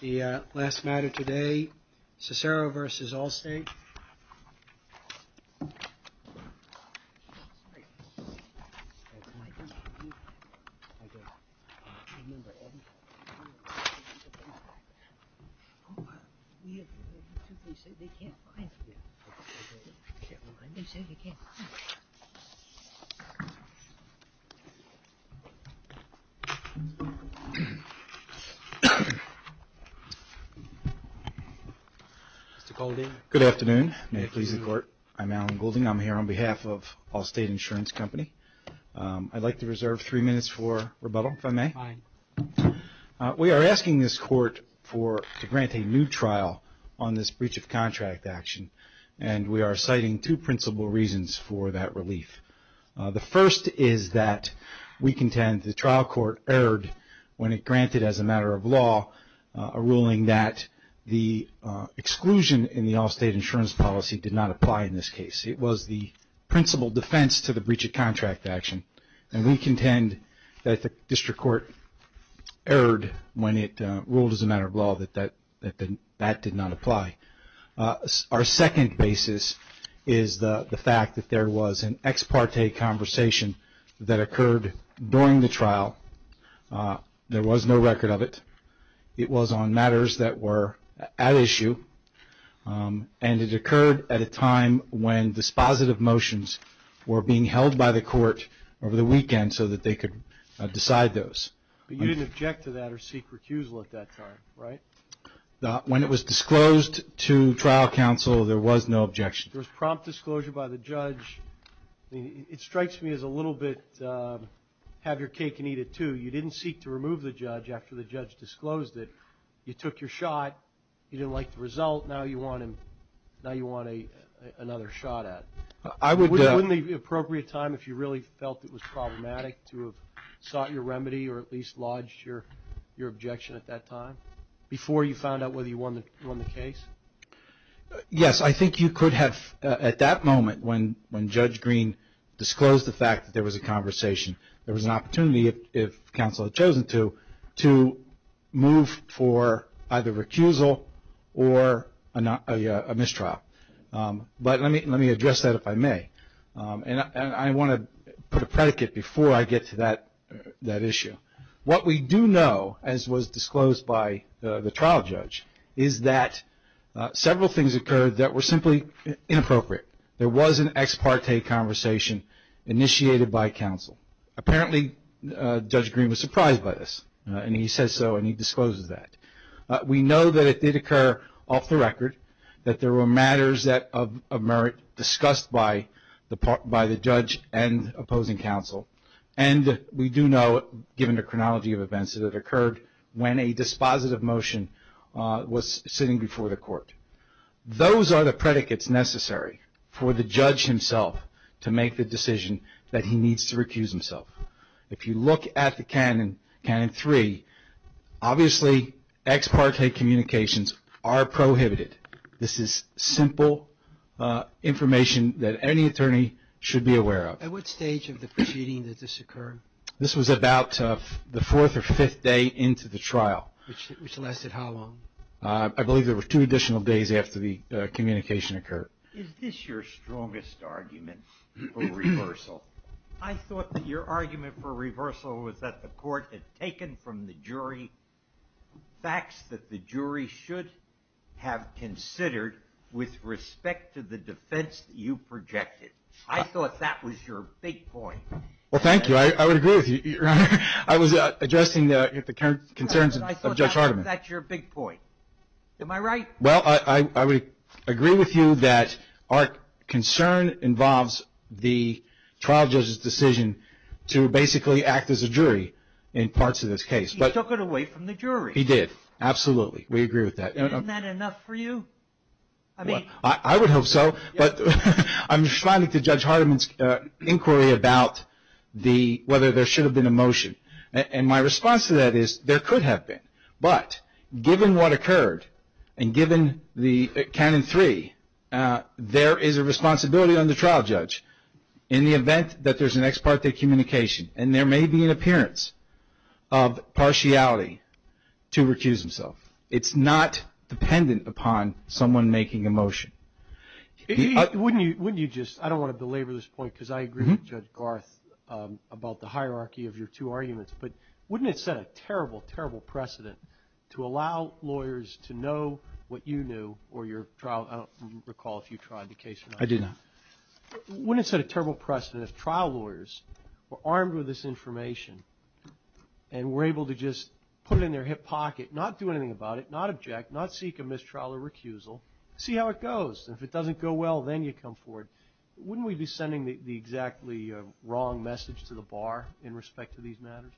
The Circus Penguin Good afternoon. May it please the court, I'm Alan Goulding. I'm here on behalf of Allstate Insurance Company. I'd like to reserve three minutes for rebuttal, if I may. Fine. We are asking this court to grant a new trial on this breach of contract action, and we are citing two principal reasons for that relief. The first is that we contend the trial court erred when it granted, as a matter of law, a ruling that the exclusion in the Allstate insurance policy did not apply in this case. It was the principal defense to the breach of contract action, and we contend that the district court erred when it ruled, as a matter of law, that that did not apply. Our second basis is the fact that there was an ex parte conversation that occurred during the trial. There was no record of it. It was on matters that were at issue, and it occurred at a time when dispositive motions were being held by the court over the weekend so that they could decide those. But you didn't object to that or seek recusal at that time, right? When it was disclosed to trial counsel, there was no objection. There was prompt disclosure by the judge. It strikes me as a little bit have your cake and eat it, too. You didn't seek to remove the judge after the judge disclosed it. You took your shot. You didn't like the result. Now you want another shot at it. Wouldn't it be an appropriate time if you really felt it was problematic to have sought your remedy or at least lodged your objection at that time before you found out whether you won the case? Yes, I think you could have at that moment when Judge Green disclosed the fact that there was a conversation, there was an opportunity if counsel had chosen to, to move for either recusal or a mistrial. But let me address that if I may. And I want to put a predicate before I get to that issue. What we do know, as was disclosed by the trial judge, is that several things occurred that were simply inappropriate. There was an ex parte conversation initiated by counsel. Apparently, Judge Green was surprised by this. And he says so and he discloses that. We know that it did occur off the record that there were matters of merit discussed by the judge and opposing counsel. And we do know, given the chronology of events, that it occurred when a dispositive motion was sitting before the court. Those are the predicates necessary for the judge himself to make the decision that he needs to recuse himself. If you look at the canon, canon three, obviously ex parte communications are prohibited. This is simple information that any attorney should be aware of. At what stage of the proceeding did this occur? This was about the fourth or fifth day into the trial. Which lasted how long? I believe there were two additional days after the communication occurred. Is this your strongest argument for reversal? I thought that your argument for reversal was that the court had taken from the jury facts that the jury should have considered with respect to the defense that you projected. I thought that was your big point. Well, thank you. I would agree with you, Your Honor. I was addressing the concerns of Judge Hardiman. I thought that was your big point. Am I right? Well, I would agree with you that our concern involves the trial judge's decision to basically act as a jury in parts of this case. He took it away from the jury. He did. Absolutely. We agree with that. Isn't that enough for you? I would hope so. I'm responding to Judge Hardiman's inquiry about whether there should have been a motion. And my response to that is there could have been. But given what occurred and given the canon three, there is a responsibility on the trial judge in the event that there's an ex parte communication and there may be an appearance of partiality to recuse himself. I don't want to belabor this point because I agree with Judge Garth about the hierarchy of your two arguments. But wouldn't it set a terrible, terrible precedent to allow lawyers to know what you knew or your trial? I don't recall if you tried the case or not. I did not. Wouldn't it set a terrible precedent if trial lawyers were armed with this information and were able to just put it in their hip pocket, not do anything about it, not object, not seek a mistrial or recusal, see how it goes, and if it doesn't go well, then you come forward? Wouldn't we be sending the exactly wrong message to the bar in respect to these matters?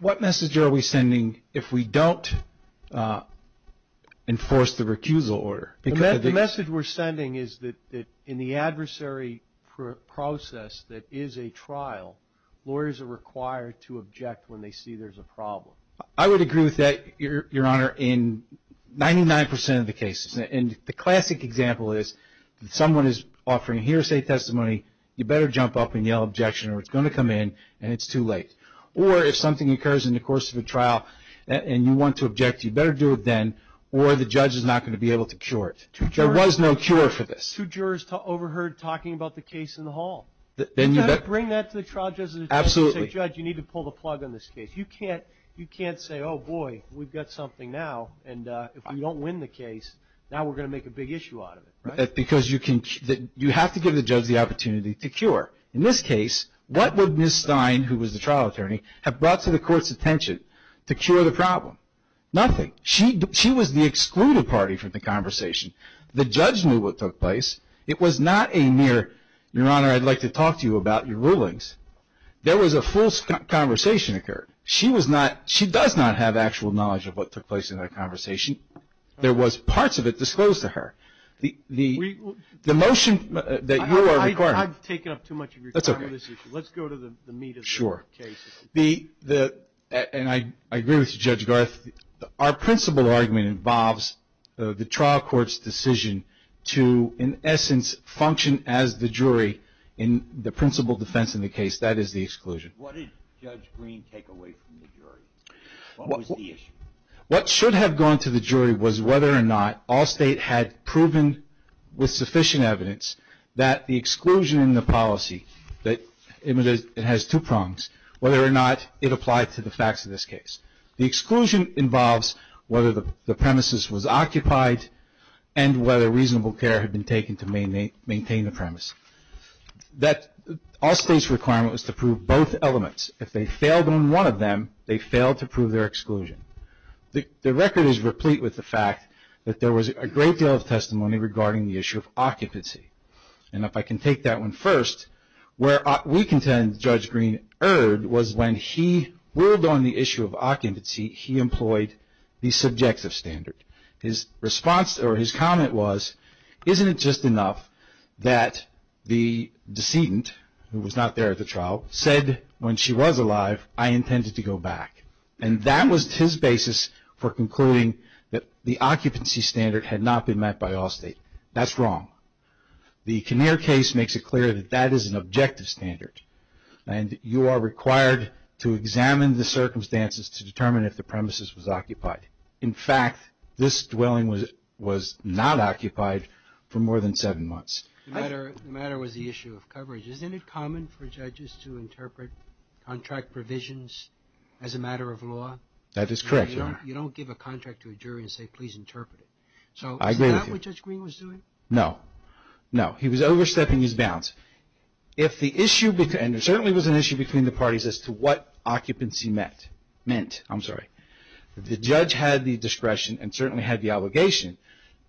What message are we sending if we don't enforce the recusal order? The message we're sending is that in the adversary process that is a trial, lawyers are required to object when they see there's a problem. I would agree with that, Your Honor, in 99 percent of the cases. And the classic example is that someone is offering a hearsay testimony, you better jump up and yell objection or it's going to come in and it's too late. Or if something occurs in the course of a trial and you want to object, you better do it then or the judge is not going to be able to cure it. There was no cure for this. Two jurors overheard talking about the case in the hall. You've got to bring that to the trial judge and say, Judge, you need to pull the plug on this case. You can't say, Oh, boy, we've got something now and if we don't win the case, now we're going to make a big issue out of it. That's because you have to give the judge the opportunity to cure. In this case, what would Ms. Stein, who was the trial attorney, have brought to the court's attention to cure the problem? Nothing. She was the excluded party from the conversation. The judge knew what took place. It was not a mere, Your Honor, I'd like to talk to you about your rulings. There was a full conversation occurred. She does not have actual knowledge of what took place in that conversation. There was parts of it disclosed to her. The motion that you are requiring. I've taken up too much of your time on this issue. Let's go to the meat of the case. Sure. And I agree with you, Judge Garth. Our principal argument involves the trial court's decision to, in essence, function as the jury in the principal defense in the case. That is the exclusion. What did Judge Green take away from the jury? What was the issue? What should have gone to the jury was whether or not all state had proven, with sufficient evidence, that the exclusion in the policy, it has two prongs, whether or not it applied to the facts of this case. The exclusion involves whether the premises was occupied and whether reasonable care had been taken to maintain the premise. All state's requirement was to prove both elements. If they failed on one of them, they failed to prove their exclusion. The record is replete with the fact that there was a great deal of testimony regarding the issue of occupancy. And if I can take that one first, where we contend Judge Green erred was when he ruled on the issue of occupancy, he employed the subjective standard. His response or his comment was, isn't it just enough that the decedent, who was not there at the trial, said when she was alive, I intended to go back. And that was his basis for concluding that the occupancy standard had not been met by all state. That's wrong. The Kinnear case makes it clear that that is an objective standard to determine if the premises was occupied. In fact, this dwelling was not occupied for more than seven months. The matter was the issue of coverage. Isn't it common for judges to interpret contract provisions as a matter of law? That is correct, Your Honor. You don't give a contract to a jury and say please interpret it. I agree with you. So is that what Judge Green was doing? No. No. He was overstepping his bounds. If the issue, and there certainly was an issue between the parties as to what occupancy meant, the judge had the discretion and certainly had the obligation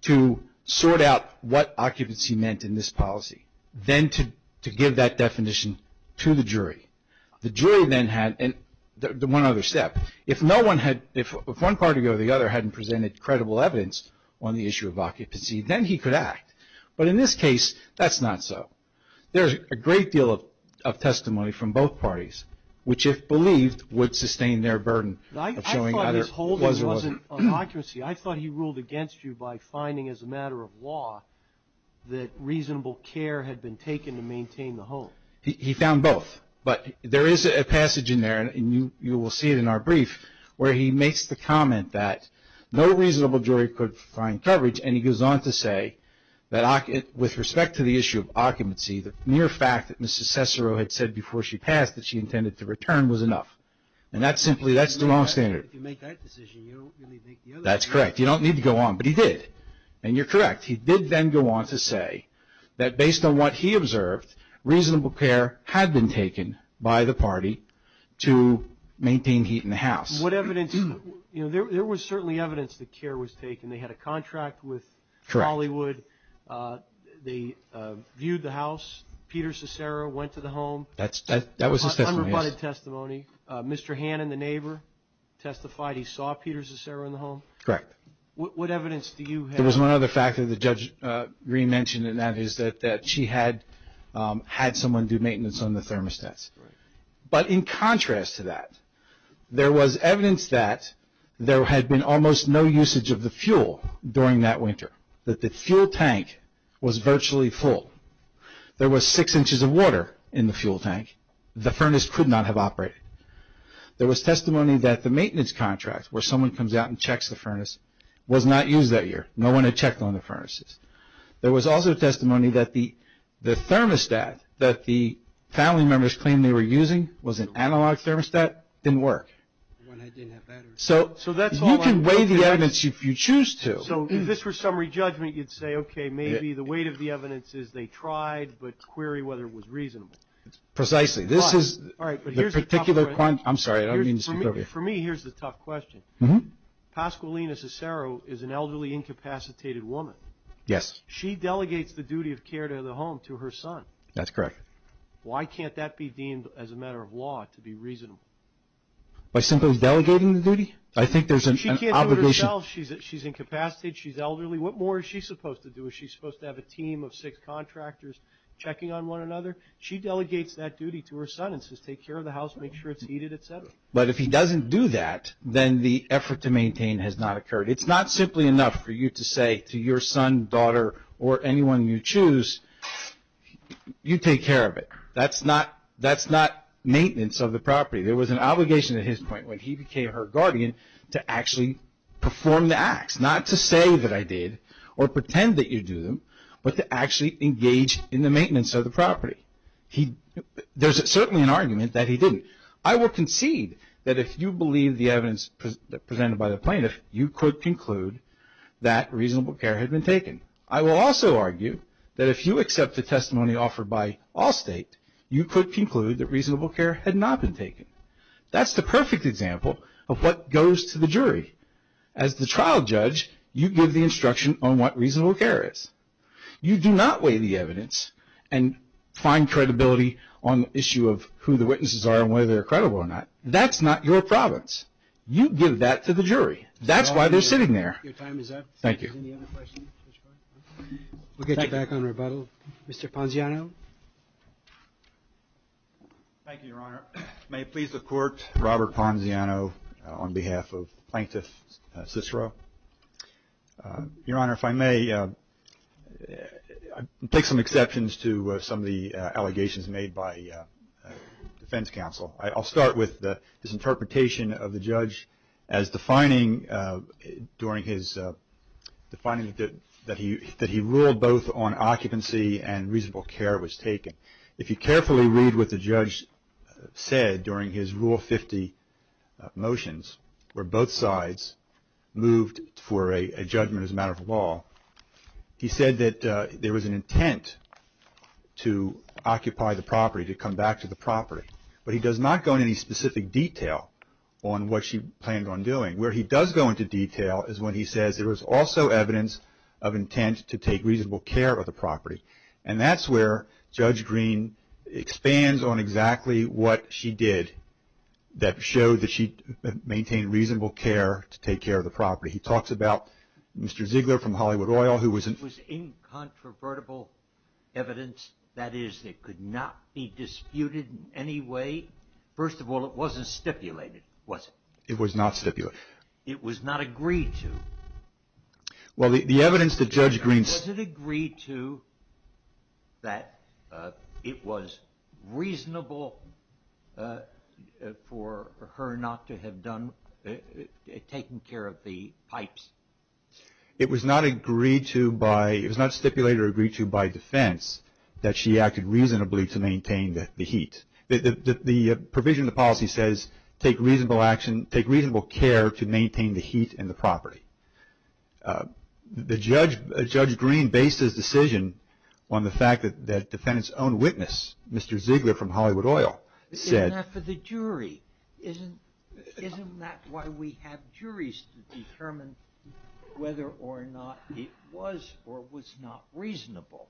to sort out what occupancy meant in this policy. Then to give that definition to the jury. The jury then had one other step. If one party or the other hadn't presented credible evidence on the issue of occupancy, then he could act. But in this case, that's not so. There's a great deal of testimony from both parties, which if believed would sustain their burden. I thought his holding wasn't on occupancy. I thought he ruled against you by finding as a matter of law that reasonable care had been taken to maintain the home. He found both. But there is a passage in there, and you will see it in our brief, where he makes the comment that no reasonable jury could find coverage, and he goes on to say that with respect to the issue of occupancy, the mere fact that Mrs. Cessaro had said before she passed that she intended to return was enough. And that's simply the wrong standard. If you make that decision, you don't really make the other one. That's correct. You don't need to go on, but he did. And you're correct. He did then go on to say that based on what he observed, reasonable care had been taken by the party to maintain heat in the house. There was certainly evidence that care was taken. They had a contract with Hollywood. They viewed the house. Peter Cessaro went to the home. That was a testimony. Unrebutted testimony. Mr. Hannon, the neighbor, testified he saw Peter Cessaro in the home. Correct. What evidence do you have? There was one other fact that the Judge Green mentioned, and that is that she had had someone do maintenance on the thermostats. Right. But in contrast to that, there was evidence that there had been almost no usage of the fuel during that winter, that the fuel tank was virtually full. There was six inches of water in the fuel tank. The furnace could not have operated. There was testimony that the maintenance contract, where someone comes out and checks the furnace, was not used that year. No one had checked on the furnaces. There was also testimony that the thermostat that the family members claimed they were using was an analog thermostat, didn't work. So you can weigh the evidence if you choose to. So if this were summary judgment, you'd say, okay, maybe the weight of the evidence is they tried, but query whether it was reasonable. Precisely. This is the particular point. I'm sorry. I don't mean to speak over you. For me, here's the tough question. Pasqualina Cessaro is an elderly incapacitated woman. Yes. She delegates the duty of care to the home to her son. That's correct. Why can't that be deemed as a matter of law to be reasonable? By simply delegating the duty? I think there's an obligation. She's incapacitated. She's elderly. What more is she supposed to do? Is she supposed to have a team of six contractors checking on one another? She delegates that duty to her son and says, take care of the house. Make sure it's heated, et cetera. But if he doesn't do that, then the effort to maintain has not occurred. It's not simply enough for you to say to your son, daughter, or anyone you choose, you take care of it. That's not maintenance of the property. There was an obligation at his point when he became her guardian to actually perform the acts. Not to say that I did or pretend that you do them, but to actually engage in the maintenance of the property. There's certainly an argument that he didn't. I will concede that if you believe the evidence presented by the plaintiff, you could conclude that reasonable care had been taken. I will also argue that if you accept the testimony offered by Allstate, you could conclude that reasonable care had not been taken. That's the perfect example of what goes to the jury. As the trial judge, you give the instruction on what reasonable care is. You do not weigh the evidence and find credibility on the issue of who the witnesses are and whether they're credible or not. That's not your province. You give that to the jury. That's why they're sitting there. Thank you. We'll get you back on rebuttal. Mr. Ponziano. Thank you, Your Honor. May it please the Court, Robert Ponziano on behalf of Plaintiff Cicero. Your Honor, if I may, I'll take some exceptions to some of the allegations made by defense counsel. I'll start with this interpretation of the judge as defining that he ruled both on occupancy and reasonable care was taken. If you carefully read what the judge said during his Rule 50 motions, where both sides moved for a judgment as a matter of law, he said that there was an intent to occupy the property, to come back to the property. But he does not go into any specific detail on what she planned on doing. Where he does go into detail is when he says there was also evidence of intent to take reasonable care of the property. And that's where Judge Green expands on exactly what she did that showed that she maintained reasonable care to take care of the property. He talks about Mr. Ziegler from Hollywood Oil who was in- That is, it could not be disputed in any way. First of all, it wasn't stipulated, was it? It was not stipulated. It was not agreed to. Well, the evidence that Judge Green... Was it agreed to that it was reasonable for her not to have taken care of the pipes? It was not agreed to by... It was not stipulated or agreed to by defense that she acted reasonably to maintain the heat. The provision of the policy says take reasonable action, take reasonable care to maintain the heat in the property. Judge Green based his decision on the fact that the defendant's own witness, Mr. Ziegler from Hollywood Oil, said... Isn't that for the jury? Isn't that why we have juries to determine whether or not it was or was not reasonable?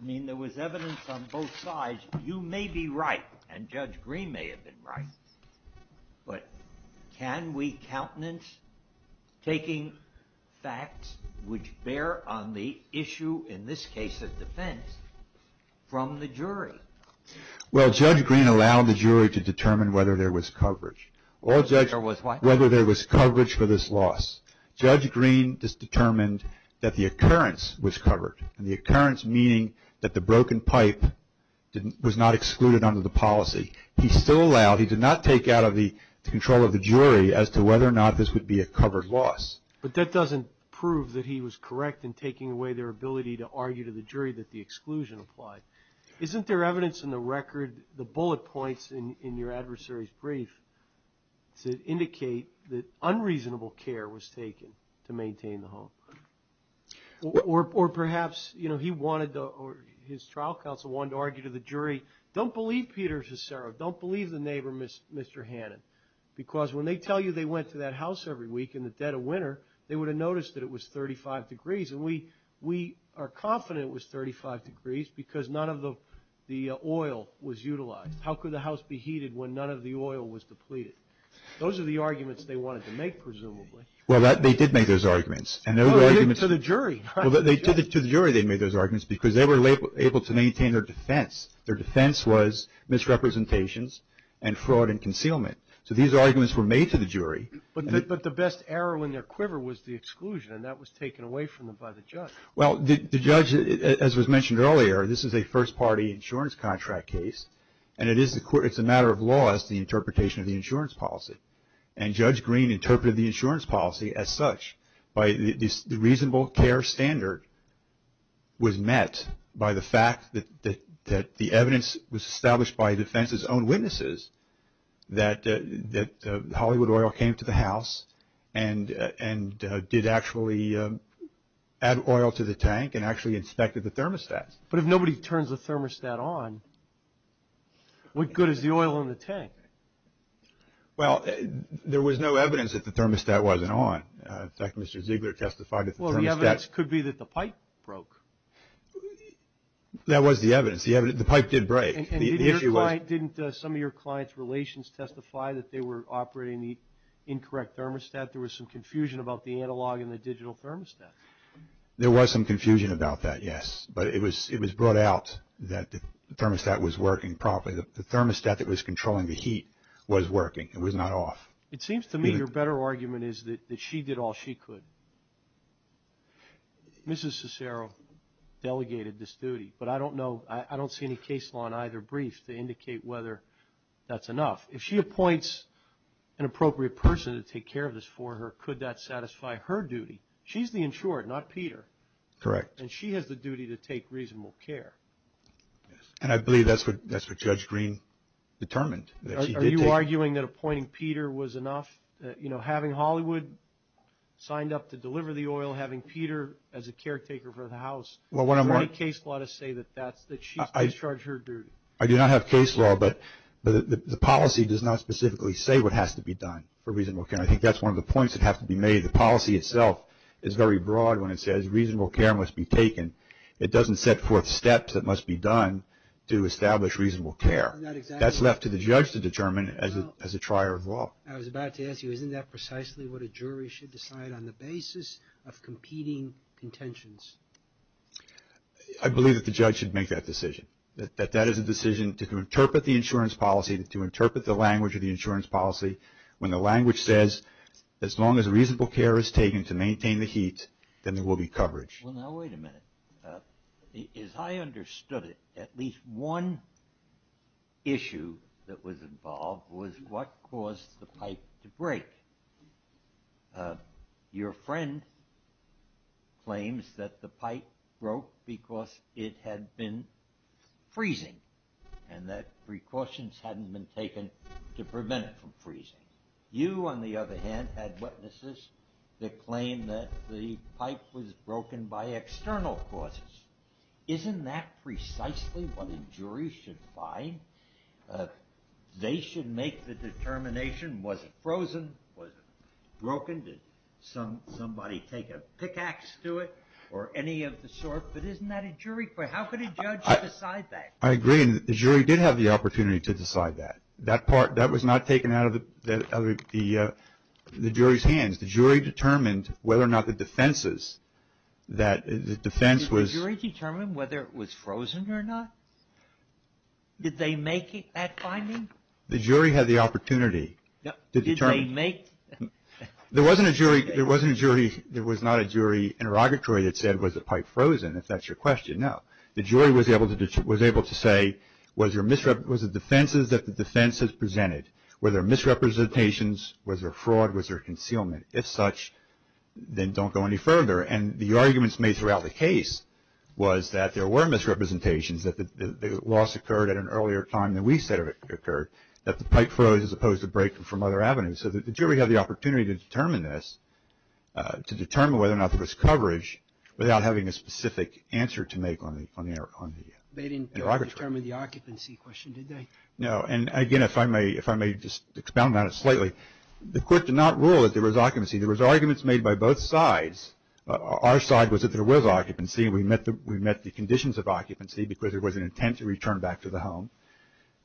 I mean, there was evidence on both sides. You may be right, and Judge Green may have been right, but can we countenance taking facts which bear on the issue, Well, Judge Green allowed the jury to determine whether there was coverage. Whether there was coverage for this loss. Judge Green just determined that the occurrence was covered, and the occurrence meaning that the broken pipe was not excluded under the policy. He still allowed... He did not take out of the control of the jury as to whether or not this would be a covered loss. But that doesn't prove that he was correct in taking away their ability to argue to the jury that the exclusion applied. Isn't there evidence in the record, the bullet points in your adversary's brief, to indicate that unreasonable care was taken to maintain the home? Or perhaps, you know, he wanted to... His trial counsel wanted to argue to the jury, Don't believe Peter Cicero. Don't believe the neighbor, Mr. Hannon. Because when they tell you they went to that house every week in the dead of winter, they would have noticed that it was 35 degrees. And we are confident it was 35 degrees because none of the oil was utilized. How could the house be heated when none of the oil was depleted? Those are the arguments they wanted to make, presumably. Well, they did make those arguments. To the jury. To the jury they made those arguments because they were able to maintain their defense. Their defense was misrepresentations and fraud and concealment. So these arguments were made to the jury. But the best arrow in their quiver was the exclusion. And that was taken away from them by the judge. Well, the judge, as was mentioned earlier, this is a first-party insurance contract case. And it's a matter of law as to the interpretation of the insurance policy. And Judge Green interpreted the insurance policy as such. The reasonable care standard was met by the fact that the evidence was established by defense's own witnesses that Hollywood Oil came to the house and did actually add oil to the tank and actually inspected the thermostats. But if nobody turns the thermostat on, what good is the oil in the tank? Well, there was no evidence that the thermostat wasn't on. In fact, Mr. Ziegler testified that the thermostat. Well, the evidence could be that the pipe broke. That was the evidence. The pipe did break. And didn't some of your client's relations testify that they were operating the incorrect thermostat? There was some confusion about the analog and the digital thermostat. There was some confusion about that, yes. But it was brought out that the thermostat was working properly. The thermostat that was controlling the heat was working. It was not off. It seems to me your better argument is that she did all she could. Mrs. Cicero delegated this duty, but I don't know. I don't see any case law in either brief to indicate whether that's enough. If she appoints an appropriate person to take care of this for her, could that satisfy her duty? She's the insured, not Peter. Correct. And she has the duty to take reasonable care. And I believe that's what Judge Green determined. Are you arguing that appointing Peter was enough? You know, having Hollywood signed up to deliver the oil, having Peter as a caretaker for the house, is there any case law to say that she's discharged her duty? I do not have case law, but the policy does not specifically say what has to be done for reasonable care. I think that's one of the points that has to be made. The policy itself is very broad when it says reasonable care must be taken. It doesn't set forth steps that must be done to establish reasonable care. That's left to the judge to determine as a trier of law. I was about to ask you, isn't that precisely what a jury should decide on the basis of competing contentions? I believe that the judge should make that decision. That that is a decision to interpret the insurance policy, to interpret the language of the insurance policy, when the language says as long as reasonable care is taken to maintain the heat, then there will be coverage. Well, now wait a minute. As I understood it, at least one issue that was involved was what caused the pipe to break. Your friend claims that the pipe broke because it had been freezing and that precautions hadn't been taken to prevent it from freezing. You, on the other hand, had witnesses that claimed that the pipe was broken by external causes. Isn't that precisely what a jury should find? They should make the determination, was it frozen? Was it broken? Did somebody take a pickaxe to it or any of the sort? But isn't that a jury? How could a judge decide that? I agree. The jury did have the opportunity to decide that. That part, that was not taken out of the jury's hands. The jury determined whether or not the defenses, that the defense was Did the jury determine whether it was frozen or not? Did they make that finding? The jury had the opportunity to determine Did they make There wasn't a jury, there was not a jury interrogatory that said was the pipe frozen, if that's your question. No. The jury was able to say was it defenses that the defense has presented? Were there misrepresentations? Was there fraud? Was there concealment? If such, then don't go any further. And the arguments made throughout the case was that there were misrepresentations, that the loss occurred at an earlier time than we said it occurred, that the pipe froze as opposed to breaking from other avenues. So the jury had the opportunity to determine this, without having a specific answer to make on the interrogatory. They didn't determine the occupancy question, did they? No. And again, if I may just expound on it slightly. The court did not rule that there was occupancy. There was arguments made by both sides. Our side was that there was occupancy. We met the conditions of occupancy because there was an intent to return back to the home.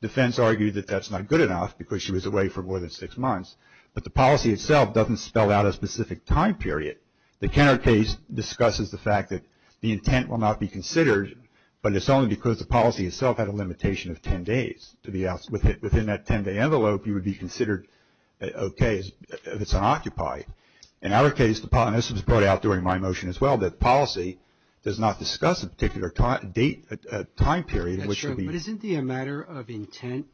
Defense argued that that's not good enough because she was away for more than six months. But the policy itself doesn't spell out a specific time period. The Kenner case discusses the fact that the intent will not be considered, but it's only because the policy itself had a limitation of ten days. Within that ten-day envelope, you would be considered okay if it's unoccupied. In our case, the policy was brought out during my motion as well, that the policy does not discuss a particular time period. But isn't the matter of intent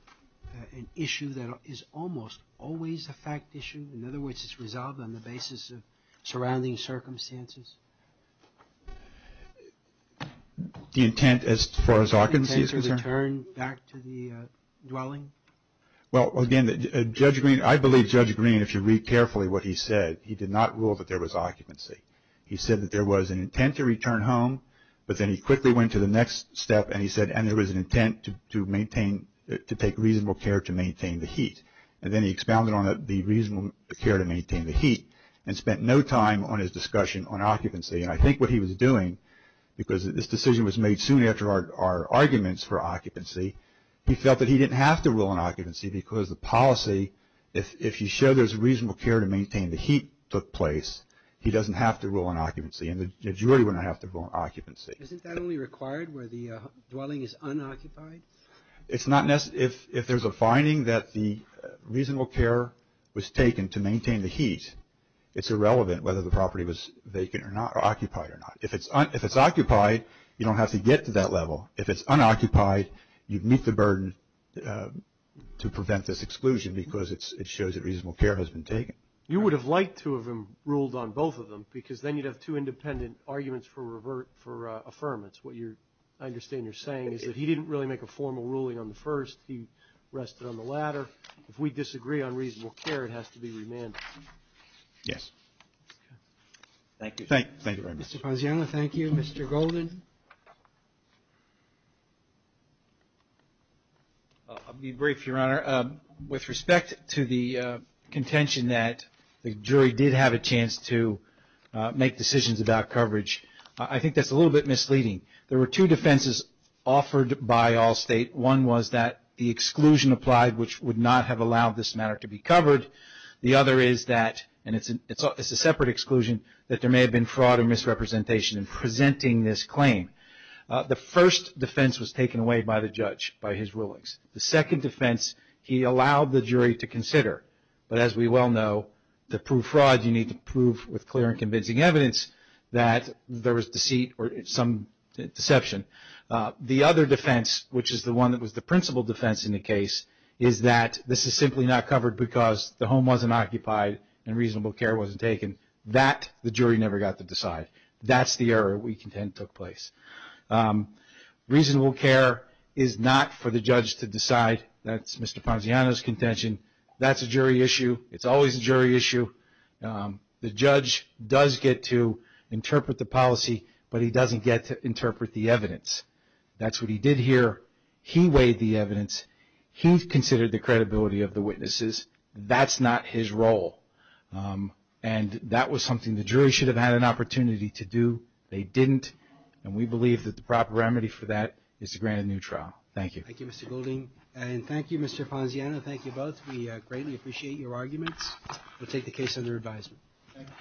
an issue that is almost always a fact issue? In other words, it's resolved on the basis of surrounding circumstances? The intent as far as occupancy is concerned? Return back to the dwelling? Well, again, Judge Green, I believe Judge Green, if you read carefully what he said, he did not rule that there was occupancy. He said that there was an intent to return home, but then he quickly went to the next step and he said, and there was an intent to maintain, to take reasonable care to maintain the heat. And then he expounded on the reasonable care to maintain the heat and spent no time on his discussion on occupancy. And I think what he was doing, because this decision was made soon after our arguments for occupancy, he felt that he didn't have to rule on occupancy because the policy, if you show there's reasonable care to maintain the heat took place, he doesn't have to rule on occupancy and the majority wouldn't have to rule on occupancy. Isn't that only required where the dwelling is unoccupied? It's not necessary. If there's a finding that the reasonable care was taken to maintain the heat, it's irrelevant whether the property was vacant or not or occupied or not. If it's occupied, you don't have to get to that level. If it's unoccupied, you'd meet the burden to prevent this exclusion because it shows that reasonable care has been taken. You would have liked to have ruled on both of them because then you'd have two independent arguments for affirmance. What I understand you're saying is that he didn't really make a formal ruling on the first. He rested on the latter. If we disagree on reasonable care, it has to be remanded. Yes. Thank you. Thank you very much. Mr. Paziano, thank you. Mr. Golden? I'll be brief, Your Honor. With respect to the contention that the jury did have a chance to make decisions about coverage, I think that's a little bit misleading. There were two defenses offered by Allstate. One was that the exclusion applied, which would not have allowed this matter to be covered. The other is that, and it's a separate exclusion, that there may have been fraud or misrepresentation in presenting this claim. The first defense was taken away by the judge, by his rulings. The second defense, he allowed the jury to consider. But as we well know, to prove fraud, you need to prove with clear and convincing evidence that there was deceit or some deception. The other defense, which is the one that was the principal defense in the case, is that this is simply not covered because the home wasn't occupied and reasonable care wasn't taken. That the jury never got to decide. That's the error we contend took place. Reasonable care is not for the judge to decide. That's Mr. Paziano's contention. That's a jury issue. It's always a jury issue. The judge does get to interpret the policy, but he doesn't get to interpret the evidence. That's what he did here. He weighed the evidence. He considered the credibility of the witnesses. That's not his role. And that was something the jury should have had an opportunity to do. They didn't. And we believe that the proper remedy for that is to grant a new trial. Thank you. Thank you, Mr. Golding. And thank you, Mr. Paziano. Thank you both. We greatly appreciate your arguments. We'll take the case under advisement. Thank you.